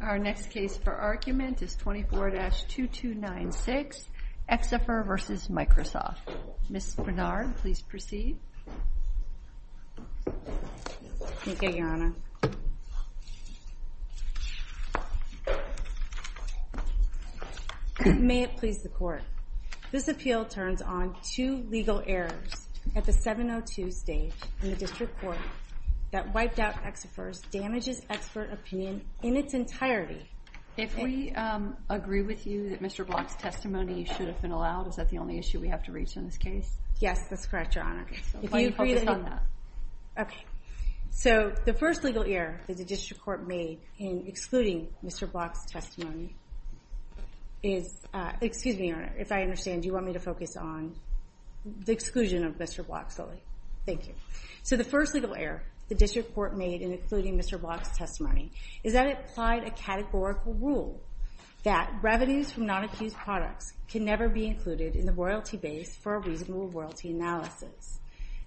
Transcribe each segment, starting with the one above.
Our next case for argument is 24-2296, Exafer v. Microsoft. Ms. Bernard, please proceed. Thank you, Your Honor. May it please the Court. This appeal turns on two legal errors at the 702 stage in the District Court that wiped out Exafer's damages expert opinion in its entirety. If we agree with you that Mr. Block's testimony should have been allowed, is that the only issue we have to reach in this case? Yes, that's correct, Your Honor. Why don't you focus on that? Okay. So, the first legal error that the District Court made in excluding Mr. Block's testimony is... Excuse me, Your Honor. If I understand, do you want me to focus on the exclusion of Mr. Block solely? Thank you. So, the first legal error the District Court made in excluding Mr. Block's testimony is that it applied a categorical rule that revenues from non-accused products can never be included in the royalty base for a reasonable royalty analysis.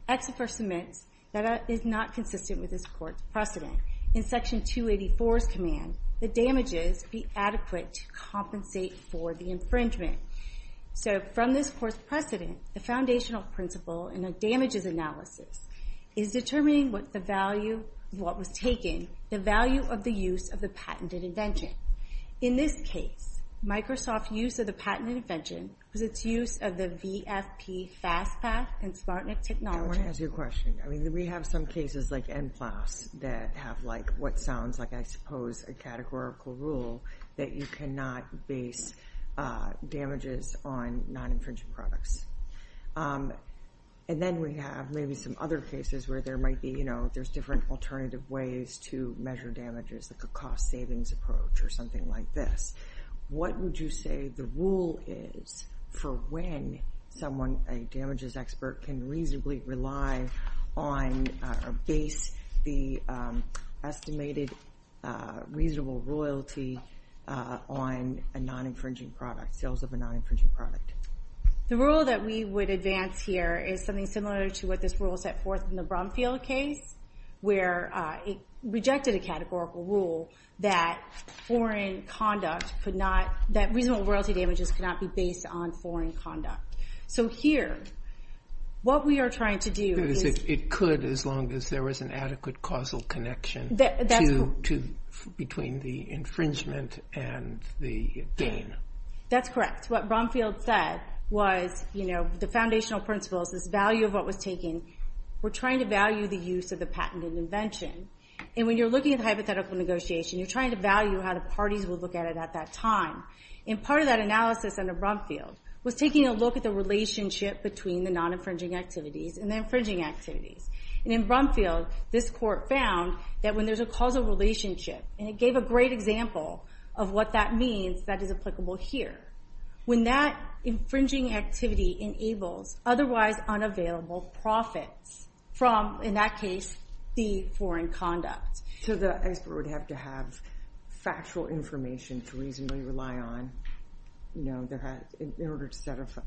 Exafer submits that it is not consistent with this Court's precedent. In Section 284's command, the damages be adequate to compensate for the infringement. So, from this Court's precedent, the foundational principle in a damages analysis is determining what was taken, the value of the use of the patented invention. In this case, Microsoft's use of the patented invention was its use of the VFP FastPath and SmartNIC technology. I want to ask you a question. I mean, we have some cases like NPLAS that have what sounds like, I suppose, a categorical rule that you cannot base damages on non-infringed products. And then we have maybe some other cases where there might be, you know, there's different alternative ways to measure damages, like a cost-savings approach or something like this. What would you say the rule is for when someone, a damages expert, can reasonably rely on or base the estimated reasonable royalty on a non-infringing product, sales of a non-infringing product? The rule that we would advance here is something similar to what this rule set forth in the Brumfield case, where it rejected a categorical rule that foreign conduct could not, that reasonable royalty damages could not be based on foreign conduct. So here, what we are trying to do is... It could, as long as there was an adequate causal connection between the infringement and the gain. That's correct. What Brumfield said was, you know, the foundational principles, this value of what was taken, we're trying to value the use of the patented invention. And when you're looking at hypothetical negotiation, you're trying to value how the parties will look at it at that time. And part of that analysis under Brumfield was taking a look at the relationship between the non-infringing activities and the infringing activities. And in Brumfield, this court found that when there's a causal relationship, and it gave a great example of what that means that is applicable here, when that infringing activity enables otherwise unavailable profits from, in that case, the foreign conduct... So the expert would have to have factual information to reasonably rely on. In order to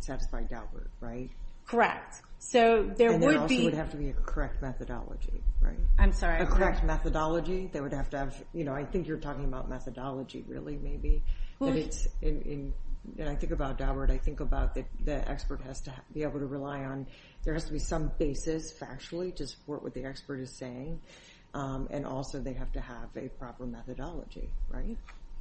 satisfy Daubert, right? And there also would have to be a correct methodology, right? I'm sorry. A correct methodology. They would have to have... You know, I think you're talking about methodology, really, maybe. And I think about Daubert, I think about that the expert has to be able to rely on... There has to be some basis factually to support what the expert is saying. And also, they have to have a proper methodology, right?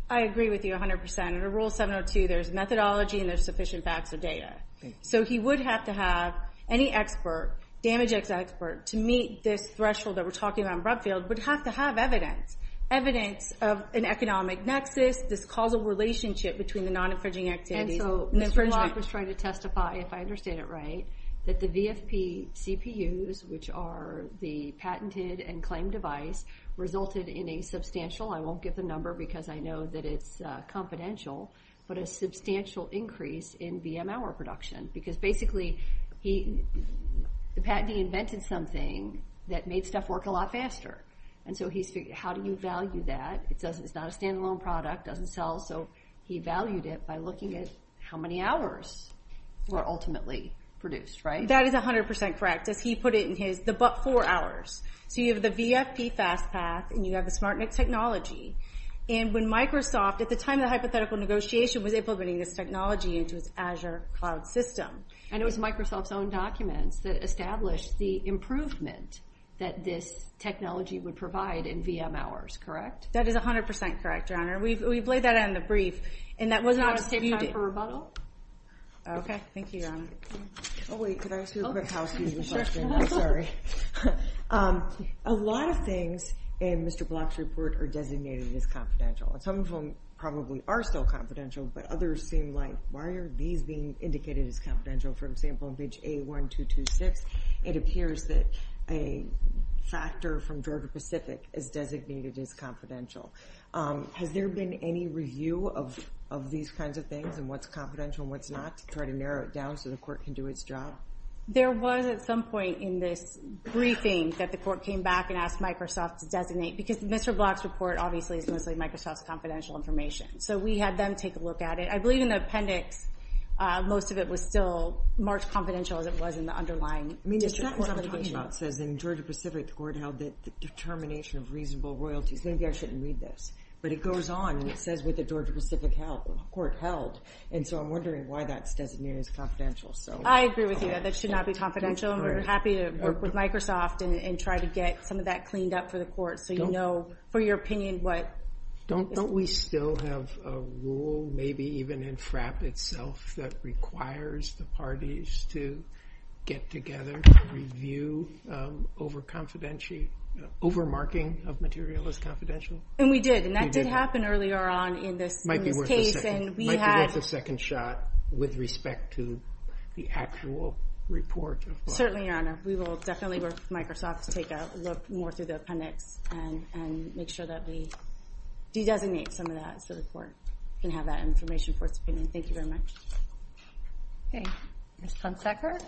I agree with you 100%. Under Rule 702, there's methodology and there's sufficient facts or data. So he would have to have any expert, damage expert, to meet this threshold that we're talking about in Brumfield, would have to have evidence. Evidence of an economic nexus, this causal relationship between the non-infringing activities and infringement. And so Mr. Block was trying to testify, if I understand it right, that the VFP CPUs, which are the patented and claimed device, resulted in a substantial... I won't give the number because I know that it's confidential, but a substantial increase in VM hour production. Because basically, the patentee invented something that made stuff work a lot faster. And so he's figuring, how do you value that? It's not a standalone product, doesn't sell, so he valued it by looking at how many hours were ultimately produced, right? That is 100% correct. As he put it in his, the but four hours. So you have the VFP fast path, and you have the SmartNIC technology, and when Microsoft, at the time of the hypothetical negotiation, was implementing this technology into its Azure cloud system. And it was Microsoft's own documents that established the improvement that this technology would provide in VM hours, correct? That is 100% correct, Your Honor. We've laid that out in the brief, and that was not disputed. Do you want to save time for rebuttal? Okay, thank you, Your Honor. Oh wait, could I ask you a quick housekeeping question? I'm sorry. A lot of things in Mr. Block's report are designated as confidential, and some of them probably are still confidential, but others seem like, why are these being indicated as confidential? For example, in page A1226, it appears that a factor from Georgia Pacific is designated as confidential. Has there been any review of these kinds of things, and what's confidential and what's not, to try to narrow it down so the court can do its job? There was at some point in this briefing that the court came back and asked Microsoft to designate, because Mr. Block's report obviously is mostly Microsoft's confidential information. So we had them take a look at it. I believe in the appendix, most of it was still marked confidential as it was in the underlying report. I mean, the sentence I'm talking about says in Georgia Pacific, the court held that determination of reasonable royalties. Maybe I shouldn't read this. But it goes on, and it says what the Georgia Pacific court held, and so I'm wondering why that's designated as confidential. I agree with you. That should not be confidential. We're happy to work with Microsoft and try to get some of that cleaned up for the court so you know, for your opinion, what is confidential. Don't we still have a rule, maybe even in FRAP itself, that requires the parties to get together to review over-marking of material as confidential? And we did, and that did happen earlier on in this case. It might be worth a second shot with respect to the actual report. Certainly, Your Honor. We will definitely work with Microsoft to take a look more through the appendix and make sure that we do designate some of that so the court can have that information for its opinion. Thank you very much. Okay. Ms. Hunsaker?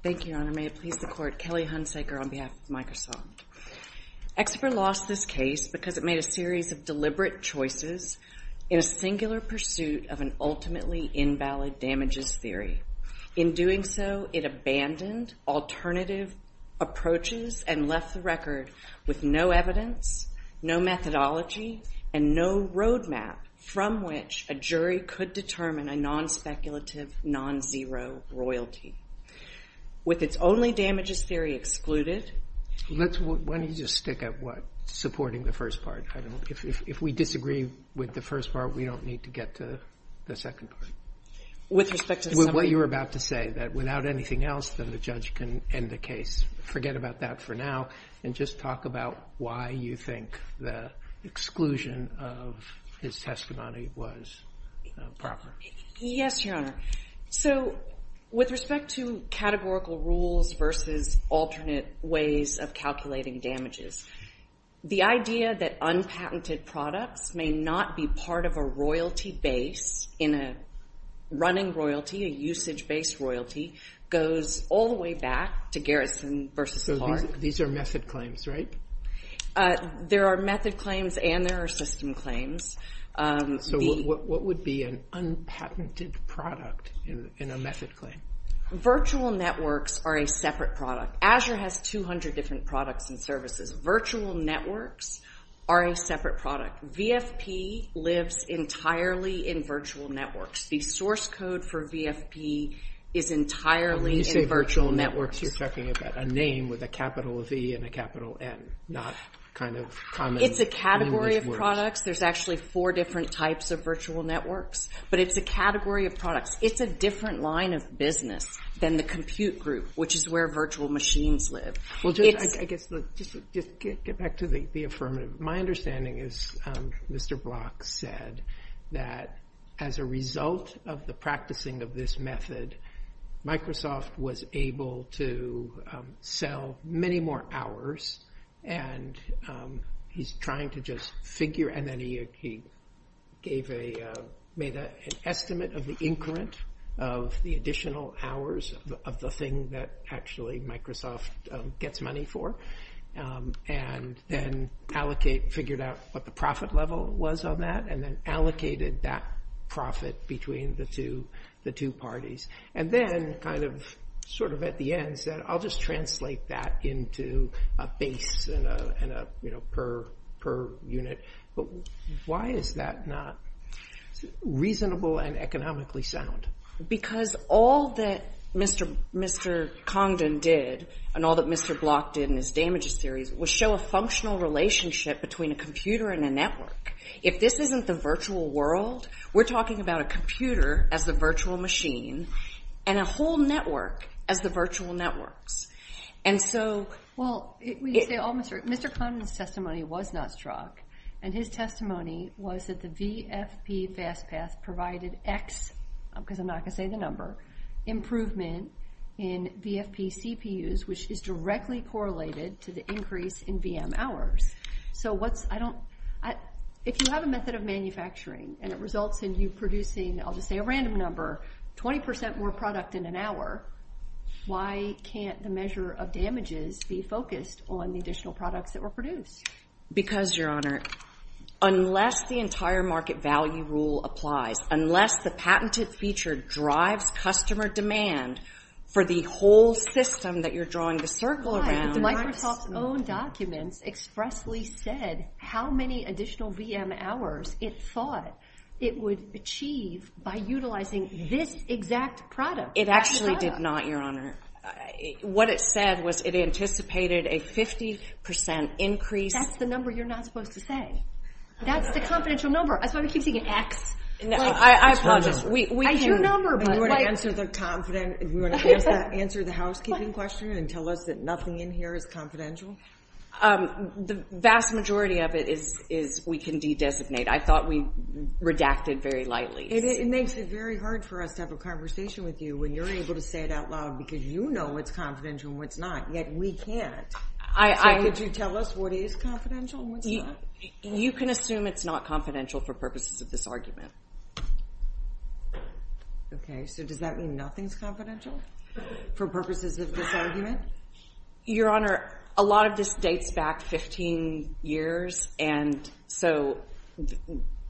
Thank you, Your Honor. May it please the court, Kelly Hunsaker on behalf of Microsoft. Exefer lost this case because it made a series of deliberate choices in a singular pursuit of an ultimately invalid damages theory. In doing so, it abandoned alternative approaches and left the record with no evidence, no methodology, and no roadmap from which a jury could determine a non-speculative, non-zero royalty. With its only damages theory excluded, Why don't you just stick at what? Supporting the first part. If we disagree with the first part, we don't need to get to the second part. With respect to the second part? With what you were about to say, that without anything else, then the judge can end the case. Forget about that for now and just talk about why you think the exclusion of his testimony was proper. Yes, Your Honor. With respect to categorical rules versus alternate ways of calculating damages, the idea that unpatented products may not be part of a royalty base in a running royalty, a usage-based royalty, goes all the way back to Garrison v. Clark. These are method claims, right? There are method claims and there are system claims. What would be an unpatented product in a method claim? Virtual networks are a separate product. Azure has 200 different products and services. Virtual networks are a separate product. VFP lives entirely in virtual networks. The source code for VFP is entirely in virtual networks. When you say virtual networks, you're talking about a name with a capital V and a capital N, not common language words. It's a category of products. There's actually four different types of virtual networks, but it's a category of products. It's a different line of business than the compute group, which is where virtual machines live. Just get back to the affirmative. My understanding is Mr. Block said that as a result of the practicing of this method, Microsoft was able to sell many more hours and he's trying to just figure, and then he made an estimate of the incurrent of the additional hours of the thing that actually Microsoft gets money for and then figured out what the profit level was on that and then allocated that profit between the two parties. Then, sort of at the end, he said, I'll just translate that into a base and a per unit. Why is that not reasonable and economically sound? Because all that Mr. Congdon did and all that Mr. Block did in his damages series was show a functional relationship between a computer and a network. If this isn't the virtual world, we're talking about a computer as the virtual machine and a whole network as the virtual networks. When you say all, Mr. Congdon's testimony was not strong and his testimony was that the VFP fast path provided X, because I'm not going to say the number, improvement in VFP CPUs, which is directly correlated to the increase in VM hours. If you have a method of manufacturing and it results in you producing, I'll just say a random number, 20% more product in an hour, why can't the measure of damages be focused on the additional products that were produced? Because, Your Honor, unless the entire market value rule applies, unless the patented feature drives customer demand for the whole system that you're drawing the circle around... It actually said how many additional VM hours it thought it would achieve by utilizing this exact product. It actually did not, Your Honor. What it said was it anticipated a 50% increase... That's the number you're not supposed to say. That's the confidential number. That's why we keep saying X. I apologize. We can... We want to answer the confident... We want to answer the housekeeping question and tell us that nothing in here is confidential? The vast majority of it is we can de-designate. I thought we redacted very lightly. It makes it very hard for us to have a conversation with you when you're able to say it out loud because you know what's confidential and what's not, yet we can't. Could you tell us what is confidential and what's not? You can assume it's not confidential for purposes of this argument. Okay, so does that mean nothing's confidential for purposes of this argument? Your Honor, a lot of this dates back 15 years, and so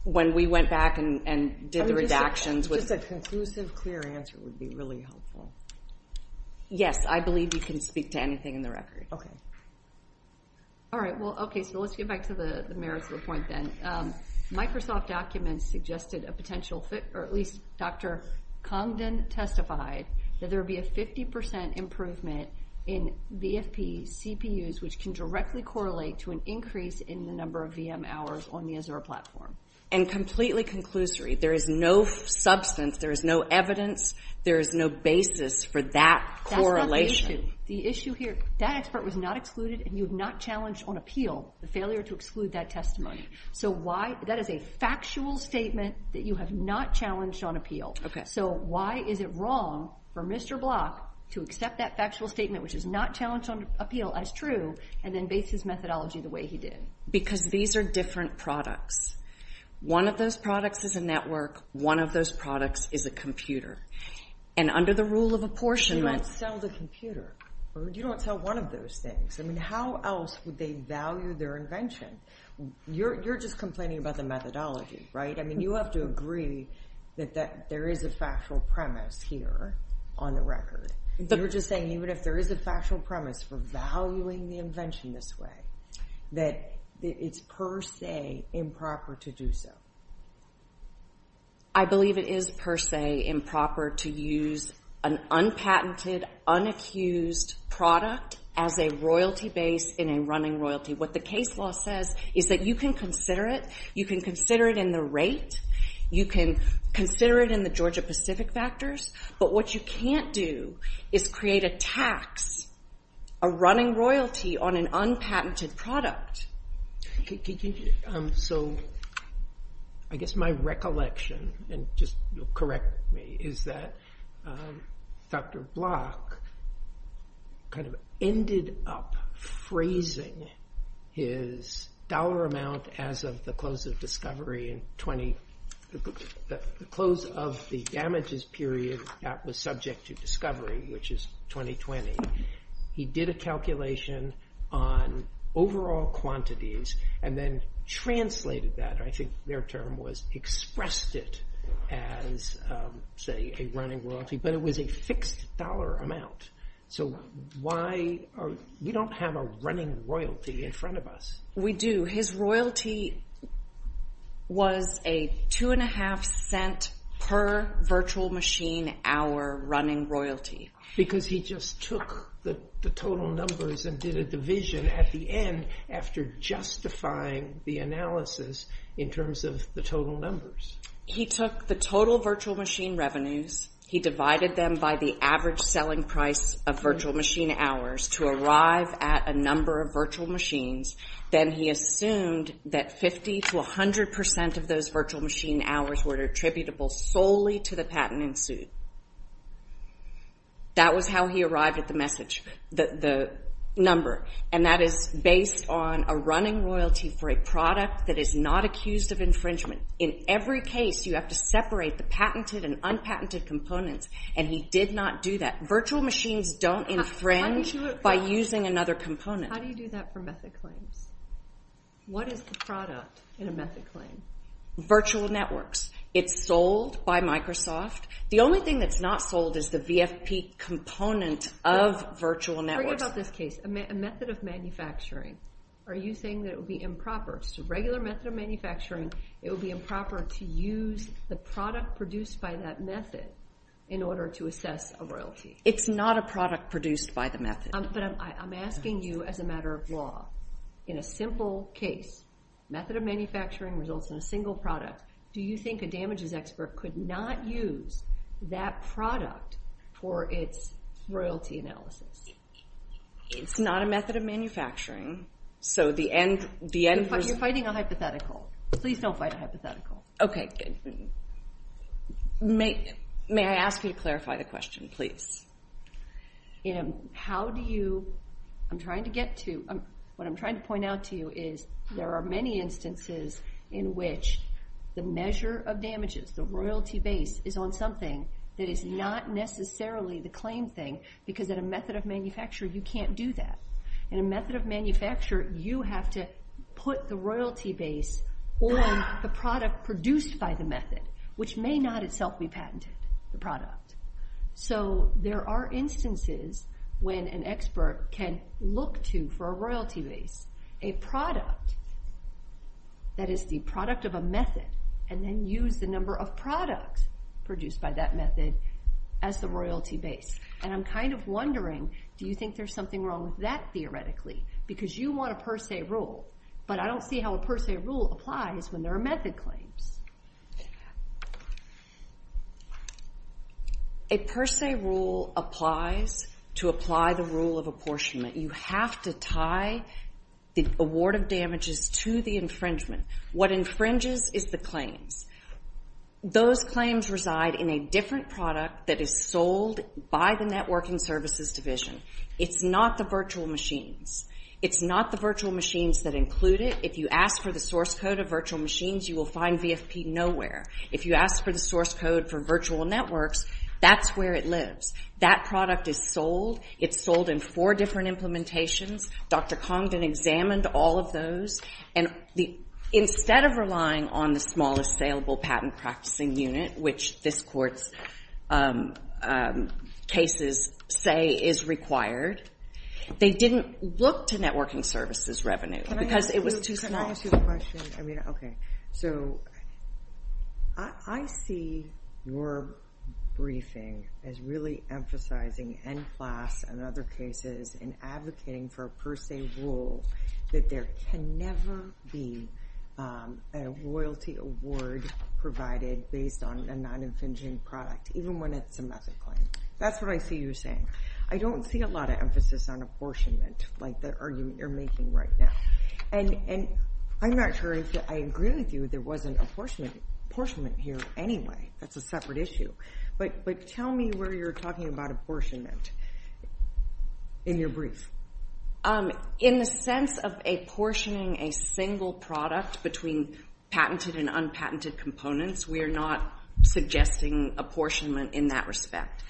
when we went back and did the redactions... Just a conclusive, clear answer would be really helpful. Yes, I believe you can speak to anything in the record. Okay. All right. Well, okay, so let's get back to the merits of the point then. Microsoft documents suggested a potential... Or at least Dr. Congdon testified that there would be a 50% improvement in VFP CPUs, which can directly correlate to an increase in the number of VM hours on the Azure platform. And completely conclusory, there is no substance, there is no evidence, there is no basis for that correlation. That's not the issue. The issue here, that expert was not excluded, and you have not challenged on appeal the failure to exclude that testimony. That is a factual statement that you have not challenged on appeal. Okay. So why is it wrong for Mr. Block to accept that factual statement, which is not challenged on appeal, as true, and then base his methodology the way he did? Because these are different products. One of those products is a network. One of those products is a computer. And under the rule of apportionment... You don't sell the computer. You don't sell one of those things. I mean, how else would they value their invention? You're just complaining about the methodology, right? I mean, you have to agree that there is a factual premise here on the record. You're just saying even if there is a factual premise for valuing the invention this way, that it's per se improper to do so. I believe it is per se improper to use an unpatented, unaccused product as a royalty base in a running royalty. What the case law says is that you can consider it. You can consider it in the rate. You can consider it in the Georgia-Pacific factors. But what you can't do is create a tax, a running royalty on an unpatented product. I guess my recollection, and just correct me, is that Dr. Block kind of ended up phrasing his dollar amount as of the close of the damages period that was subject to discovery, which is 2020. He did a calculation on overall quantities and then translated that, I think their term was, expressed it as, say, a running royalty. But it was a fixed dollar amount. We don't have a running royalty in front of us. We do. His royalty was a 2.5 cent per virtual machine hour running royalty. Because he just took the total numbers and did a division at the end after justifying the analysis in terms of the total numbers. He took the total virtual machine revenues. He divided them by the average selling price of virtual machine hours to arrive at a number of virtual machines. Then he assumed that 50 to 100 percent of those virtual machine hours were attributable solely to the patent in suit. That was how he arrived at the number. And that is based on a running royalty for a product that is not accused of infringement. In every case, you have to separate the patented and unpatented components. And he did not do that. Virtual machines don't infringe by using another component. How do you do that for method claims? What is the product in a method claim? Virtual networks. It's sold by Microsoft. The only thing that's not sold is the VFP component of virtual networks. Forget about this case. A method of manufacturing. Are you saying that it would be improper? Just a regular method of manufacturing, it would be improper to use the product produced by that method in order to assess a royalty? It's not a product produced by the method. But I'm asking you as a matter of law. In a simple case, method of manufacturing results in a single product. Do you think a damages expert could not use that product for its royalty analysis? It's not a method of manufacturing. So the end result... You're fighting a hypothetical. Please don't fight a hypothetical. Okay, good. May I ask you to clarify the question, please? How do you... I'm trying to get to... What I'm trying to point out to you is there are many instances in which the measure of damages, the royalty base, is on something that is not necessarily the claim thing because in a method of manufacturing, you can't do that. In a method of manufacturing, you have to put the royalty base on the product produced by the method, which may not itself be patented, the product. So there are instances when an expert can look to, for a royalty base, a product that is the product of a method and then use the number of products produced by that method as the royalty base. And I'm kind of wondering, do you think there's something wrong with that, theoretically? Because you want a per se rule, but I don't see how a per se rule applies when there are method claims. A per se rule applies to apply the rule of apportionment. You have to tie the award of damages to the infringement. What infringes is the claims. Those claims reside in a different product that is sold by the Networking Services Division. It's not the virtual machines. It's not the virtual machines that include it. If you ask for the source code of virtual machines, you will find VFP nowhere. If you ask for the source code for virtual networks, that's where it lives. That product is sold. It's sold in four different implementations. Dr. Congdon examined all of those. And instead of relying on the small assailable patent practicing unit, which this court's cases say is required, they didn't look to networking services revenue because it was too small. I see your briefing as really emphasizing N-Class and other cases and advocating for a per se rule that there can never be a royalty award provided based on a non-infringing product, even when it's a method claim. That's what I see you're saying. I don't see a lot of emphasis on apportionment, like the argument you're making right now. And I'm not sure if I agree with you there wasn't apportionment here anyway. That's a separate issue. But tell me where you're talking about apportionment in your brief. In the sense of apportioning a single product between patented and unpatented components, we're not suggesting apportionment in that respect.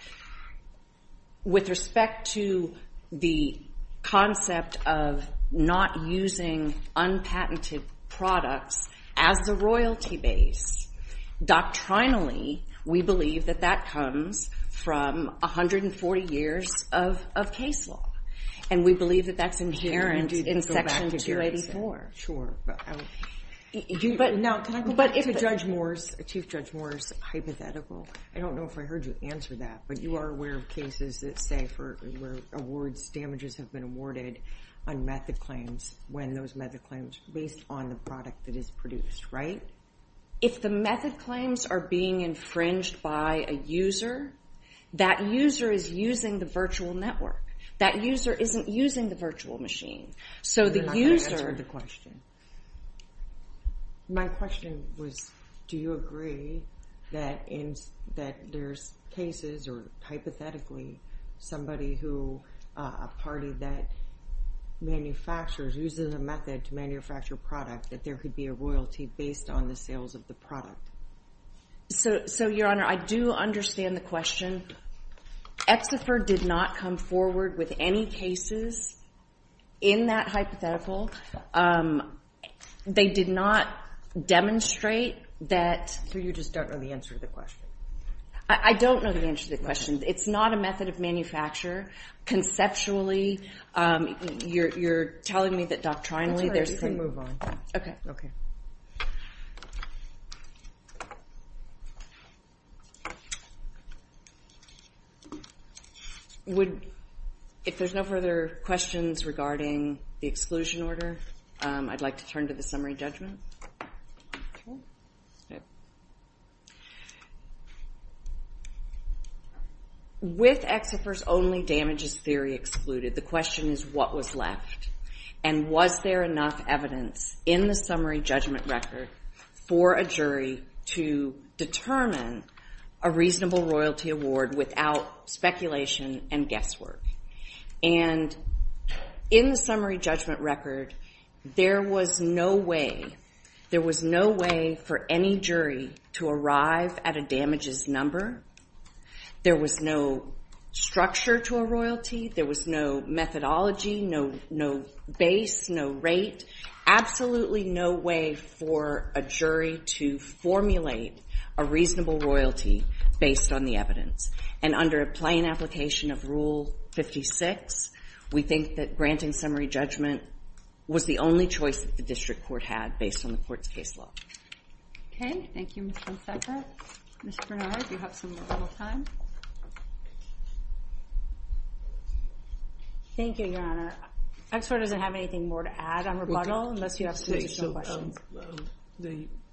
With respect to the concept of not using unpatented products as the royalty base, doctrinally, we believe that that comes from 140 years of case law. And we believe that that's inherent in Section 284. Sure. Now, can I go back to Chief Judge Moore's hypothetical? I don't know if I heard you answer that, but you are aware of cases that say where damages have been awarded on method claims when those method claims are based on the product that is produced, right? If the method claims are being infringed by a user, that user is using the virtual network. That user isn't using the virtual machine. So the user... You're not going to answer the question. My question was, do you agree that there's cases, or hypothetically, somebody who, a party that manufactures, uses a method to manufacture a product, that there could be a royalty based on the sales of the product? So, Your Honor, I do understand the question. EXIFR did not come forward with any cases in that hypothetical. They did not demonstrate that... So you just don't know the answer to the question. I don't know the answer to the question. It's not a method of manufacture. Conceptually, you're telling me that doctrinally... That's all right. You can move on. Okay. If there's no further questions regarding the exclusion order, I'd like to turn to the summary judgment. With EXIFR's only damages theory excluded, the question is, what was left? And was there enough evidence in the summary judgment record for a jury to determine a reasonable royalty award without speculation and guesswork? And in the summary judgment record, there was no way... There was no way for any jury to arrive at a damages number. There was no structure to a royalty. There was no methodology, no base, no rate. Absolutely no way for a jury to formulate a reasonable royalty based on the evidence. And under a plain application of Rule 56, we think that granting summary judgment was the only choice that the district court had based on the court's case law. Okay. Thank you, Mr. McBecker. Mr. Bernard, you have some rebuttal time. Thank you, Your Honor. EXIFR doesn't have anything more to add on rebuttal unless you have some additional questions.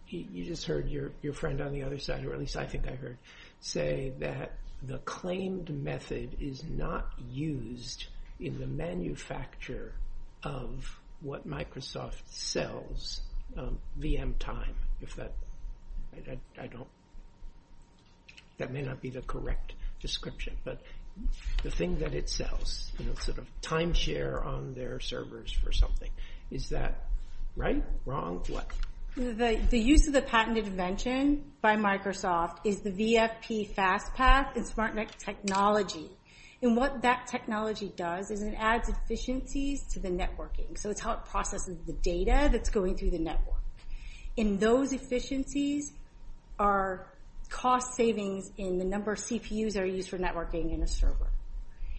You just heard your friend on the other side, or at least I think I heard, say that the claimed method is not used in the manufacture of what Microsoft sells, VM time, if that... That may not be the correct description, but the thing that it sells, sort of timeshare on their servers for something. Is that right, wrong, what? The use of the patented invention by Microsoft is the VFP FastPath and SmartNet technology. And what that technology does is it adds efficiencies to the networking. So it's how it processes the data that's going through the network. And those efficiencies are cost savings in the number of CPUs that are used for networking in a server.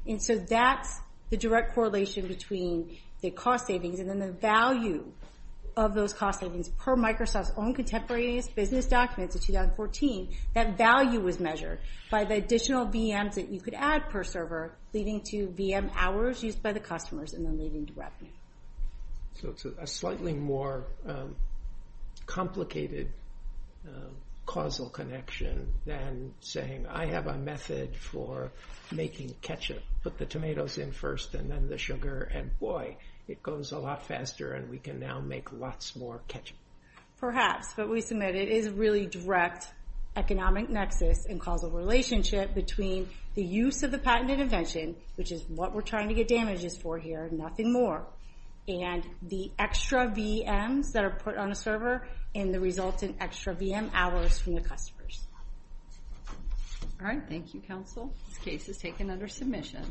And so that's the direct correlation between the cost savings and then the value of those cost savings per Microsoft's own contemporary business documents in 2014. That value was measured by the additional VMs that you could add per server, leading to VM hours used by the customers and then leading to revenue. So it's a slightly more complicated causal connection than saying, I have a method for making ketchup. Put the tomatoes in first and then the sugar, and boy, it goes a lot faster and we can now make lots more ketchup. Perhaps, but we submit it is a really direct economic nexus and causal relationship between the use of the patented invention, which is what we're trying to get damages for here, nothing more, and the extra VMs that are put on a server and the resultant extra VM hours from the customers. All right, thank you, counsel. This case is taken under submission.